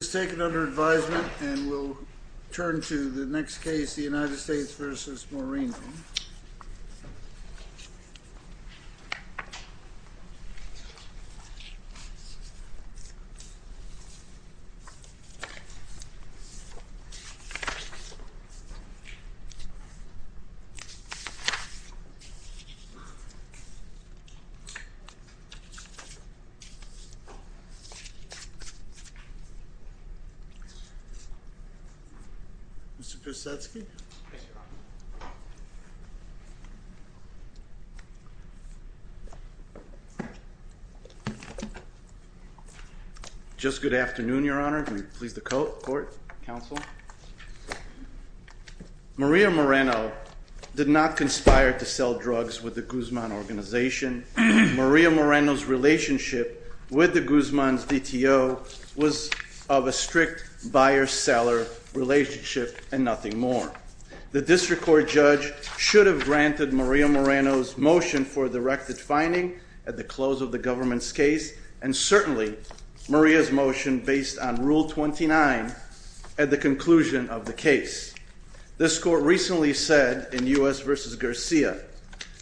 This is taken under advisement and we'll turn to the next case, the United States v. Moreno. Mr. Prusetsky. Just good afternoon, Your Honor. Please the court, counsel. Maria Moreno did not conspire to sell drugs with the Guzman organization. Maria Moreno's relationship with the Guzman's DTO was of a strict buyer-seller relationship and nothing more. The district court judge should have granted Maria Moreno's motion for a directed finding at the close of the government's case, and certainly Maria's motion based on Rule 29 at the conclusion of the case. This court recently said in U.S. v. Garcia,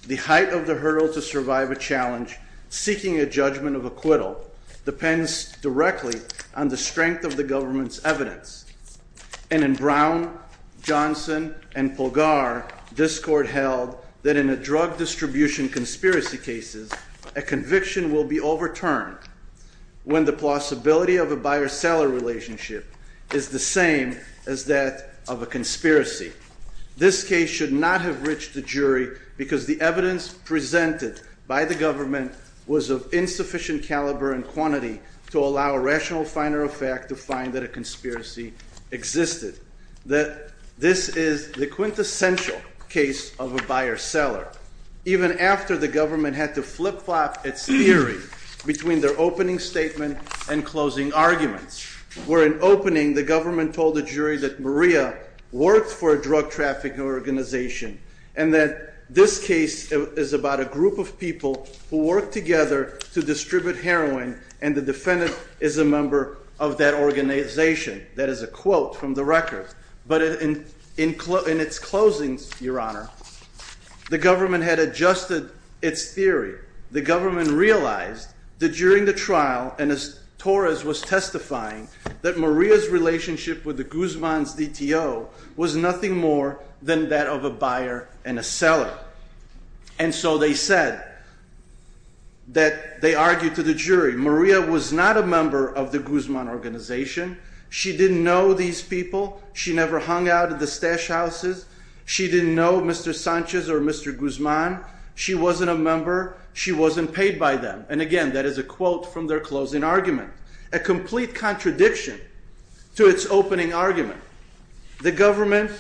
the height of the hurdle to survive a challenge seeking a judgment of acquittal depends directly on the strength of the government's evidence. And in Brown, Johnson, and Polgar, this court held that in a drug distribution conspiracy case, a conviction will be overturned when the possibility of a buyer-seller relationship is the same as that of a conspiracy. This case should not have reached the jury because the evidence presented by the government was of insufficient caliber and quantity to allow a rational finder of fact to find that a conspiracy existed. This is the quintessential case of a buyer-seller. Even after the government had to flip-flop its theory between their opening statement and closing arguments, where in opening the government told the jury that Maria worked for a drug trafficking organization and that this case is about a group of people who work together to distribute heroin and the defendant is a member of that organization. That is a quote from the record. But in its closings, Your Honor, the government had adjusted its theory. The government realized that during the trial, and as Torres was testifying, that Maria's relationship with the Guzman's DTO was nothing more than that of a buyer and a seller. And so they said that, they argued to the jury, Maria was not a member of the Guzman organization. She didn't know these people. She never hung out at the stash houses. She didn't know Mr. Sanchez or Mr. Guzman. She wasn't a member. She wasn't paid by them. And again, that is a quote from their closing argument, a complete contradiction to its opening argument. The government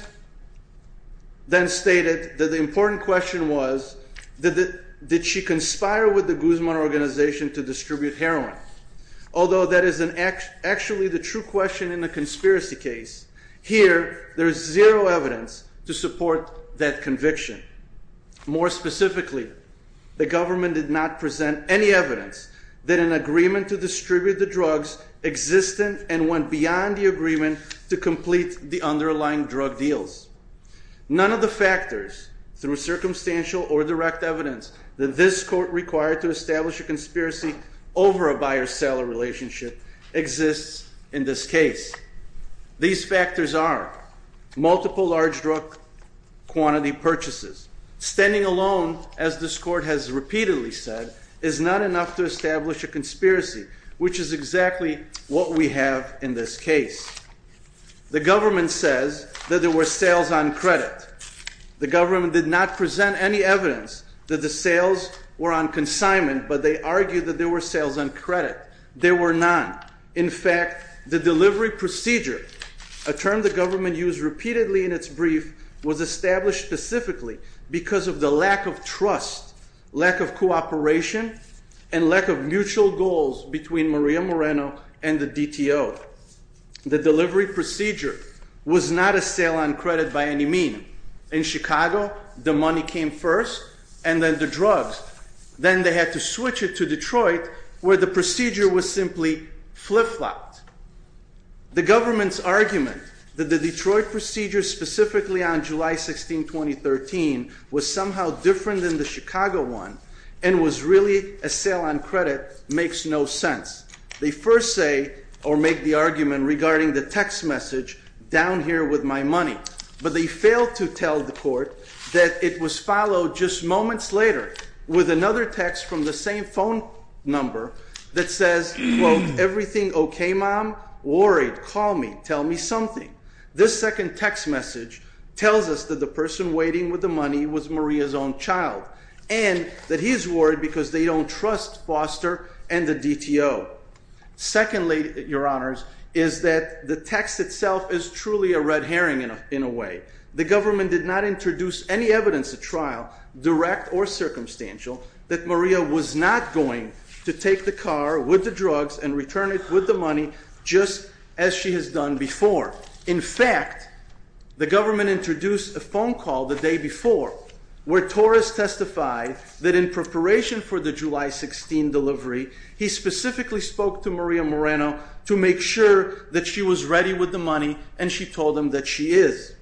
then stated that the important question was, did she conspire with the Guzman organization to distribute heroin? Although that is actually the true question in a conspiracy case, here there is zero evidence to support that conviction. More specifically, the government did not present any evidence that an agreement to distribute the drugs existed and went beyond the agreement to complete the underlying drug deals. None of the factors, through circumstantial or direct evidence, that this court required to establish a conspiracy over a buyer-seller relationship exists in this case. These factors are multiple large drug quantity purchases. Standing alone, as this court has repeatedly said, is not enough to establish a conspiracy, which is exactly what we have in this case. The government says that there were sales on credit. The government did not present any evidence that the sales were on consignment, but they argued that there were sales on credit. There were none. In fact, the delivery procedure, a term the government used repeatedly in its brief, was established specifically because of the lack of trust, lack of cooperation, and lack of mutual goals between Maria Moreno and the DTO. The delivery procedure was not a sale on credit by any mean. In Chicago, the money came first, and then the drugs. Then they had to switch it to Detroit, where the procedure was simply flip-flopped. The government's argument that the Detroit procedure, specifically on July 16, 2013, was somehow different than the Chicago one and was really a sale on credit makes no sense. They first say, or make the argument regarding the text message, down here with my money, but they fail to tell the court that it was followed just moments later with another text from the same phone number that says, quote, everything okay, mom? Worried. Call me. Tell me something. This second text message tells us that the person waiting with the money was Maria's own child, and that he's worried because they don't trust Foster and the DTO. Secondly, Your Honors, is that the text itself is truly a red herring in a way. The government did not introduce any evidence at trial, direct or circumstantial, that Maria was not going to take the car with the drugs and return it with the money just as she has done before. In fact, the government introduced a phone call the day before where Torres testified that in preparation for the July 16 delivery, he specifically spoke to Maria Moreno to make sure that she was ready with the money and she told him that she is.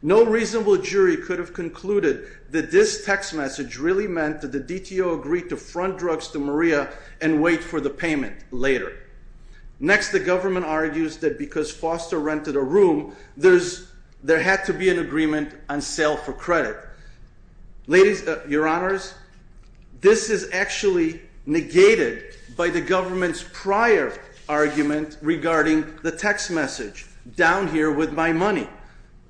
No reasonable jury could have concluded that this text message really meant that the DTO agreed to front drugs to Maria and wait for the payment later. Next, the government argues that because Foster rented a room, there had to be an agreement on sale for credit. Ladies, Your Honors, this is actually negated by the government's prior argument regarding the text message, down here with my money.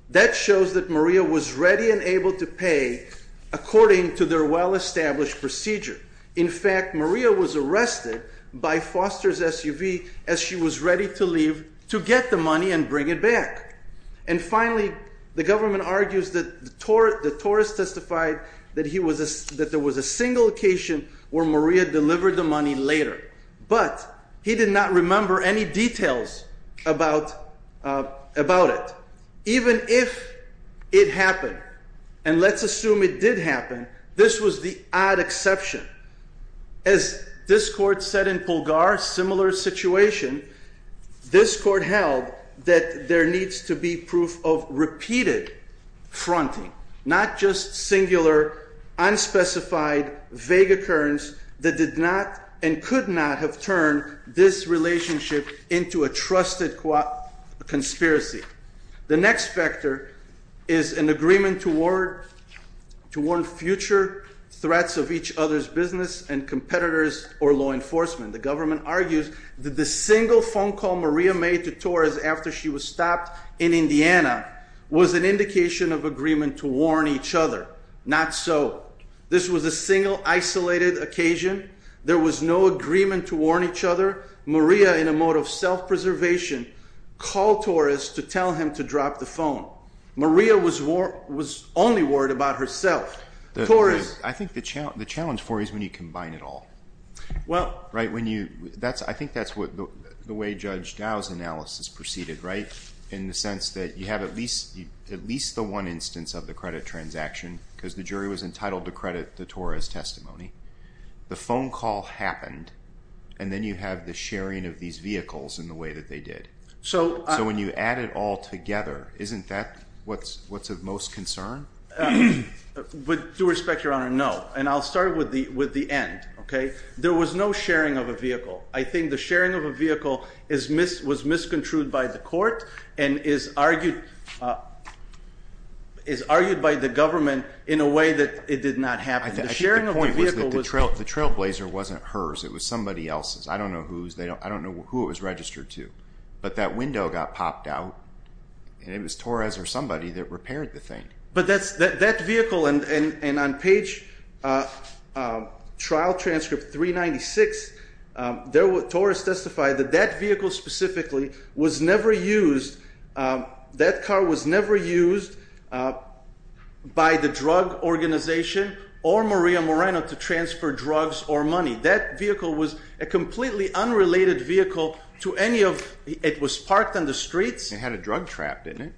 That shows that Maria was ready and able to pay according to their well-established procedure. In fact, Maria was arrested by Foster's SUV as she was ready to leave to get the money and bring it back. And finally, the government argues that Torres testified that there was a single occasion where Maria delivered the money later. But he did not remember any details about it. Even if it happened, and let's assume it did happen, this was the odd exception. As this court said in Pulgar, similar situation, this court held that there needs to be proof of repeated fronting, not just singular, unspecified, vague occurrence that did not and could not have turned this relationship into a trusted conspiracy. The next factor is an agreement toward future threats of each other's business and competitors or law enforcement. The government argues that the single phone call Maria made to Torres after she was stopped in Indiana was an indication of agreement to warn each other. Not so. This was a single, isolated occasion. There was no agreement to warn each other. Maria, in a mode of self-preservation, called Torres to tell him to drop the phone. Maria was only worried about herself. I think the challenge for you is when you combine it all. I think that's the way Judge Dow's analysis proceeded, in the sense that you have at least the one instance of the credit transaction, because the jury was entitled to credit the Torres testimony. The phone call happened, and then you have the sharing of these vehicles in the way that they did. So when you add it all together, isn't that what's of most concern? With due respect, Your Honor, no. And I'll start with the end. There was no sharing of a vehicle. I think the sharing of a vehicle was misconstrued by the court and is argued by the government in a way that it did not happen. The point was that the trailblazer wasn't hers. It was somebody else's. I don't know who it was registered to. But that window got popped out, and it was Torres or somebody that repaired the thing. But that vehicle, and on page trial transcript 396, Torres testified that that vehicle specifically was never used. That car was never used by the drug organization or Maria Moreno to transfer drugs or money. That vehicle was a completely unrelated vehicle to any of, it was parked on the streets. It had a drug trapped in it.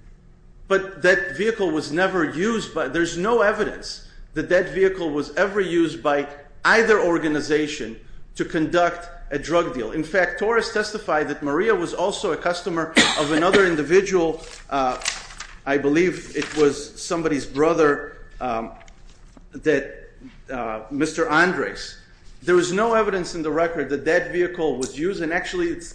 But that vehicle was never used by, there's no evidence that that vehicle was ever used by either organization to conduct a drug deal. In fact, Torres testified that Maria was also a customer of another individual. I believe it was somebody's brother, Mr. Andres. There was no evidence in the record that that vehicle was used, and actually it's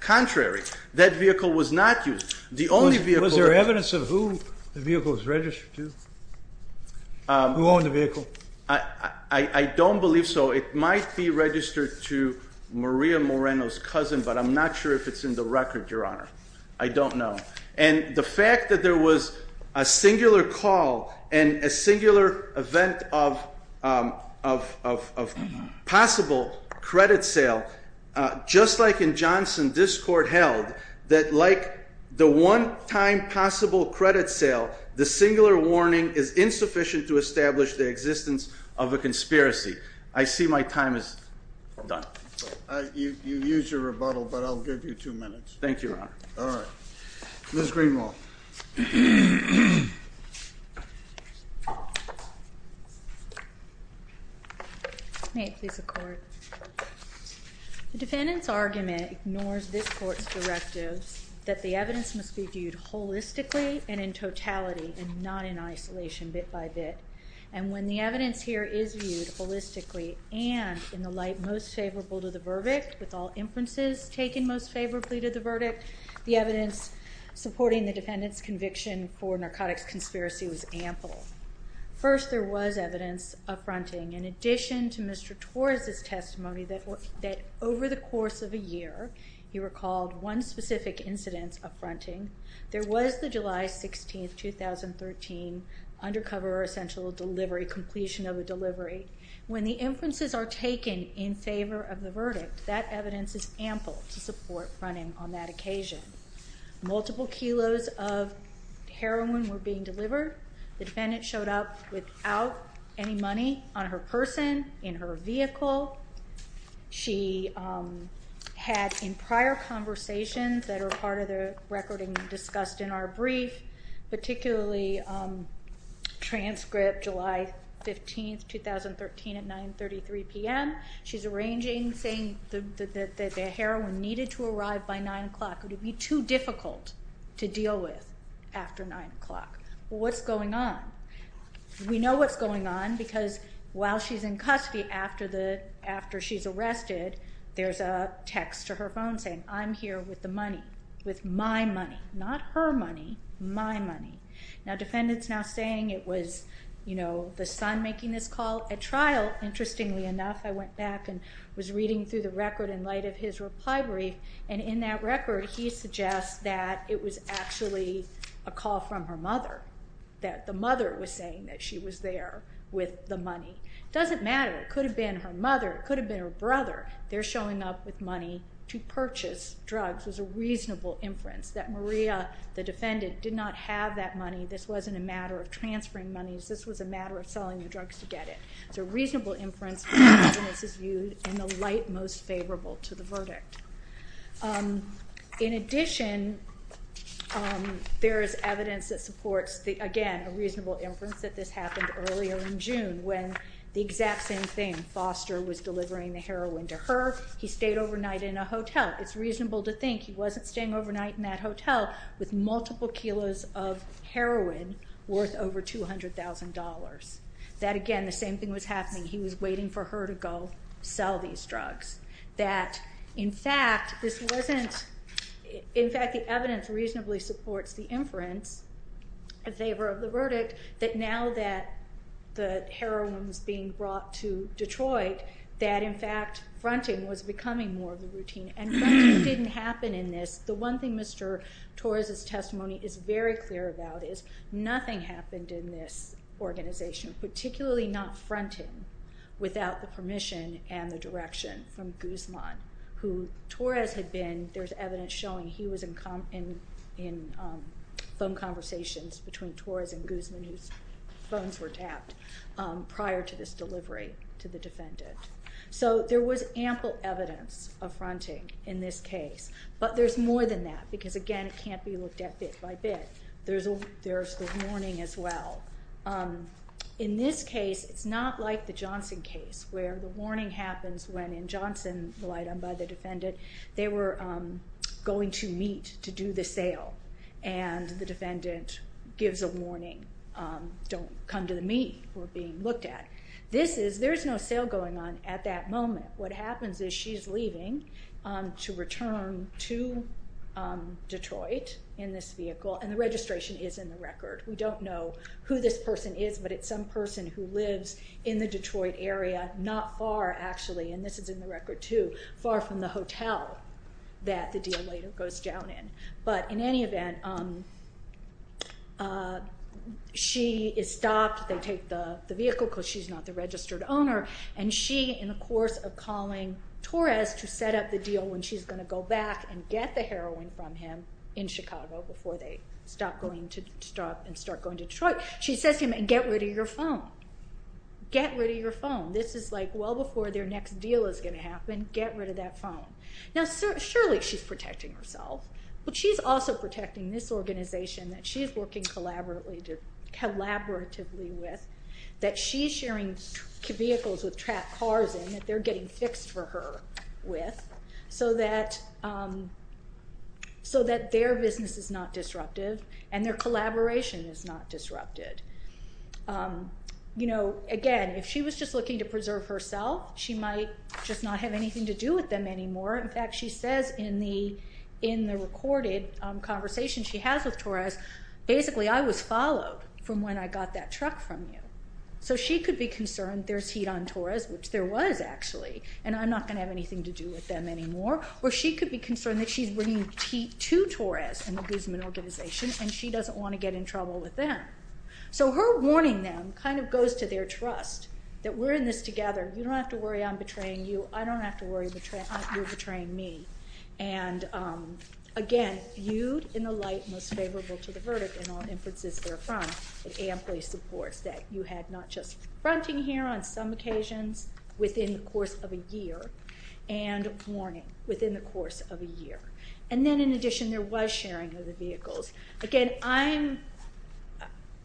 contrary. That vehicle was not used. The only vehicle... Was there evidence of who the vehicle was registered to? Who owned the vehicle? I don't believe so. It might be registered to Maria Moreno's cousin, but I'm not sure if it's in the record, Your Honor. I don't know. And the fact that there was a singular call and a singular event of possible credit sale, just like in Johnson, this court held that like the one-time possible credit sale, the singular warning is insufficient to establish the existence of a conspiracy. I see my time is done. You used your rebuttal, but I'll give you two minutes. Thank you, Your Honor. All right. Ms. Greenwald. May it please the Court. The defendant's argument ignores this Court's directive that the evidence must be viewed holistically and in totality and not in isolation bit by bit, and when the evidence here is viewed holistically and in the light most favorable to the verdict, the evidence supporting the defendant's conviction for narcotics conspiracy was ample. First, there was evidence upfronting. In addition to Mr. Torres' testimony that over the course of a year, he recalled one specific incidence upfronting. There was the July 16, 2013, undercover essential delivery, completion of a delivery. When the inferences are taken in favor of the verdict, that evidence is ample to support fronting on that occasion. Multiple kilos of heroin were being delivered. The defendant showed up without any money on her person, in her vehicle. She had, in prior conversations that are part of the recording discussed in our brief, particularly transcript July 15, 2013, at 9.33 p.m. She's arranging, saying that the heroin needed to arrive by 9 o'clock. It would be too difficult to deal with after 9 o'clock. What's going on? We know what's going on because while she's in custody, after she's arrested, there's a text to her phone saying, I'm here with the money. With my money. Not her money. My money. Now, defendant's now saying it was the son making this call. At trial, interestingly enough, I went back and was reading through the record in light of his reply brief, and in that record, he suggests that it was actually a call from her mother. That the mother was saying that she was there with the money. It doesn't matter. It could have been her mother. It could have been her brother. They're showing up with money to purchase drugs. It was a reasonable inference that Maria, the defendant, did not have that money. This wasn't a matter of transferring money. This was a matter of selling the drugs to get it. It's a reasonable inference, and this is viewed in the light most favorable to the verdict. In addition, there is evidence that supports, again, a reasonable inference that this happened earlier in June when the exact same thing. Foster was delivering the heroin to her. He stayed overnight in a hotel. It's reasonable to think he wasn't staying overnight in that hotel with multiple kilos of heroin worth over $200,000. That, again, the same thing was happening. He was waiting for her to go sell these drugs. In fact, the evidence reasonably supports the inference in favor of the verdict that now that the heroin was being brought to Detroit, that, in fact, fronting was becoming more of a routine. And fronting didn't happen in this. The one thing Mr. Torres' testimony is very clear about is nothing happened in this organization, particularly not fronting without the permission and the direction from Guzman, who Torres had been. There's evidence showing he was in phone conversations between Torres and Guzman whose phones were tapped prior to this delivery to the defendant. So there was ample evidence of fronting in this case. But there's more than that because, again, it can't be looked at bit by bit. There's the warning as well. In this case, it's not like the Johnson case where the warning happens when, in Johnson, relied on by the defendant, they were going to meet to do the sale and the defendant gives a warning, don't come to the meet, we're being looked at. There's no sale going on at that moment. What happens is she's leaving to return to Detroit in this vehicle and the registration is in the record. We don't know who this person is, but it's some person who lives in the Detroit area not far, actually, and this is in the record too, far from the hotel that the deal later goes down in. But in any event, she is stopped. They take the vehicle because she's not the registered owner and she, in the course of calling Torres to set up the deal when she's going to go back and get the heroin from him in Chicago before they stop and start going to Detroit, she says to him, and get rid of your phone. Get rid of your phone. This is well before their next deal is going to happen. Get rid of that phone. Surely she's protecting herself, but she's also protecting this organization that she's working collaboratively with, that she's sharing vehicles with trapped cars in that they're getting fixed for her with so that their business is not disruptive and their collaboration is not disrupted. Again, if she was just looking to preserve herself, she might just not have anything to do with them anymore. In fact, she says in the recorded conversation she has with Torres, basically, I was followed from when I got that truck from you. So she could be concerned that she's bringing tea to Torres and the Guzman organization and she doesn't want to get in trouble with them. So her warning them kind of goes to their trust that we're in this together. You don't have to worry I'm betraying you. I don't have to worry you're betraying me. And again, viewed in the light most favorable to the verdict in all inferences therefrom, it amply supports that you had not just fronting here on some occasions within the course of a year and warning within the course of a year. And then in addition there was sharing of the vehicles. Again,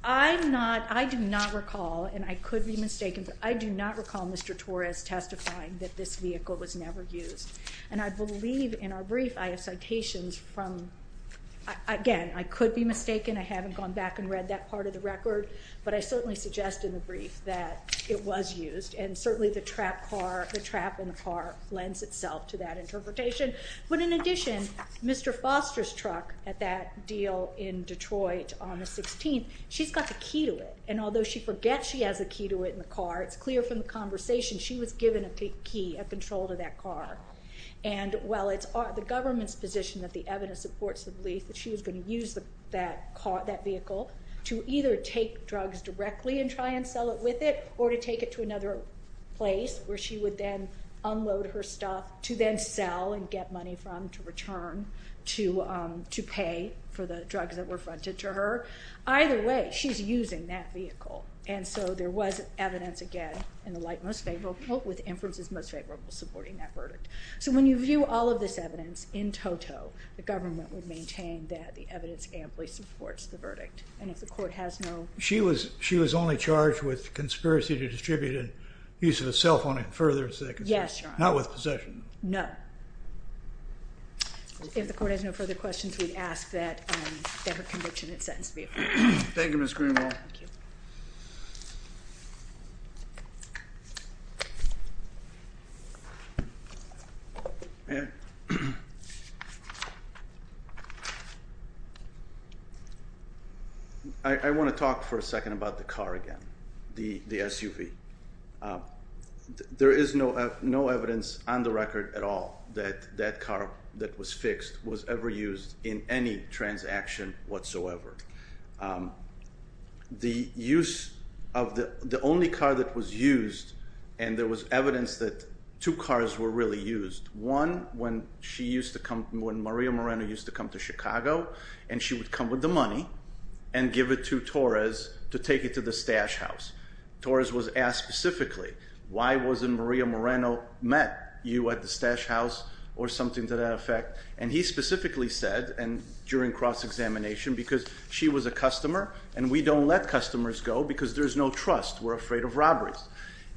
I'm not, I do not recall, and I could be mistaken, but I do not recall Mr. Torres testifying that this vehicle was never used. And I believe in our brief I have citations from, again, I could be mistaken, I haven't gone back and read that part of the record, but I certainly suggest in the brief that it was used. And certainly the trap in the car lends itself to that interpretation. But in addition, Mr. Foster's truck at that deal in Detroit on the 16th, she's got the key to it. And although she forgets she has the key to it in the car, it's clear from the conversation she was given a key, a control to that car. And while it's the government's position that the evidence supports the belief that she was going to use that vehicle to either take drugs directly and try and sell it with it, or to take it to another place where she would then unload her stuff to then sell and get money from to return to pay for the drugs that were fronted to her. Either way, she's using that vehicle. And so there was evidence, again, in the light most favorable with inferences most favorable supporting that verdict. So when you view all of this evidence in toto, the government would maintain that the evidence amply supports the verdict. And if the court has no... She was only charged with conspiracy to distribute and use of a cell phone and further... Yes, Your Honor. Not with possession. No. If the court has no further questions, we'd ask that her conviction and sentence be approved. Thank you, Ms. Greenwald. I want to talk for a second about the car again. The SUV. There is no evidence on the record at all that that car that was fixed was ever used in any transaction whatsoever. The use of the... The only car that was used, and there was evidence that two cars were really used. One, when she used to come... When Maria Moreno used to come to Chicago and she would come with the money and give it to Torres to take it to the stash house. Torres was asked specifically, why wasn't Maria Moreno met you at the stash house or something to that effect? And he specifically said, and during cross-examination, because she was a customer and we don't let customers go because there's no trust. We're afraid of robberies.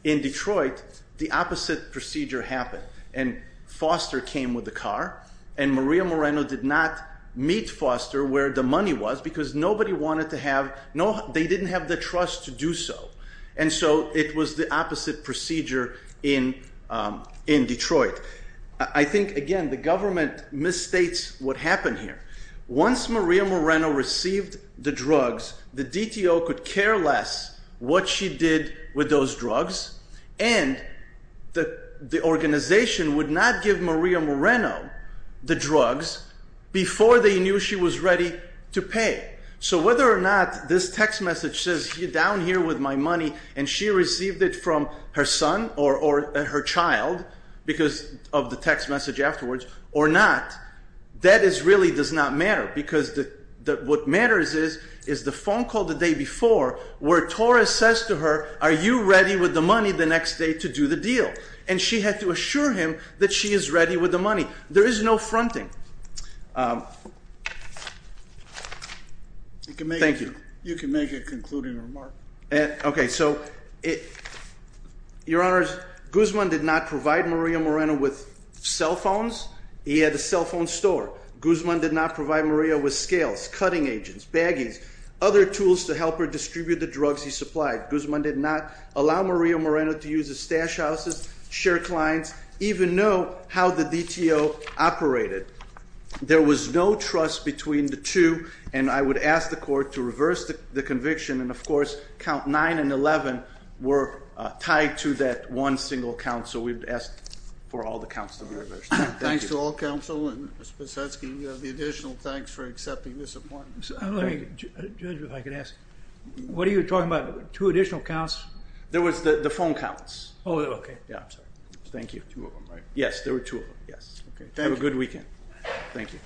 In Detroit, the opposite procedure happened and Foster came with the car and Maria Moreno did not meet Foster where the money was because nobody wanted to have... They didn't have the trust to do so. And so it was the opposite procedure in Detroit. I think, again, the government misstates what happened here. Once Maria Moreno received the drugs, the DTO could care less what she did with those drugs and the organization would not give Maria Moreno the drugs before they knew she was ready to pay. So whether or not this text message says, you're down here with my money and she received it from her son or her child because of the text message afterwards or not, that really does not matter because what matters is the phone call the day before where Torres says to her, are you ready with the money the next day to do the deal? And she had to assure him that she is ready with the money. There is no fronting. Thank you. You can make a concluding remark. Okay. So, Your Honor, Guzman did not provide Maria Moreno with cell phones. He had a cell phone store. Guzman did not provide Maria with scales, cutting agents, baggies, other tools to help her distribute the drugs he supplied. Guzman did not allow Maria Moreno to use his stash houses, share clients, even know how the DTO operated. There was no trust between the two and I would ask the court to reverse the conviction and of course count 9 and 11 were tied to that one single count so we would ask for all the counts to be reversed. Thanks to all counsel and Mr. Sposetsky, the additional thanks for accepting this appointment. Judge, if I could ask, what are you talking about? Two additional counts? There was the phone counts. Oh, okay. Thank you. Yes, there were two of them. Have a good weekend. Thank you. Thank you.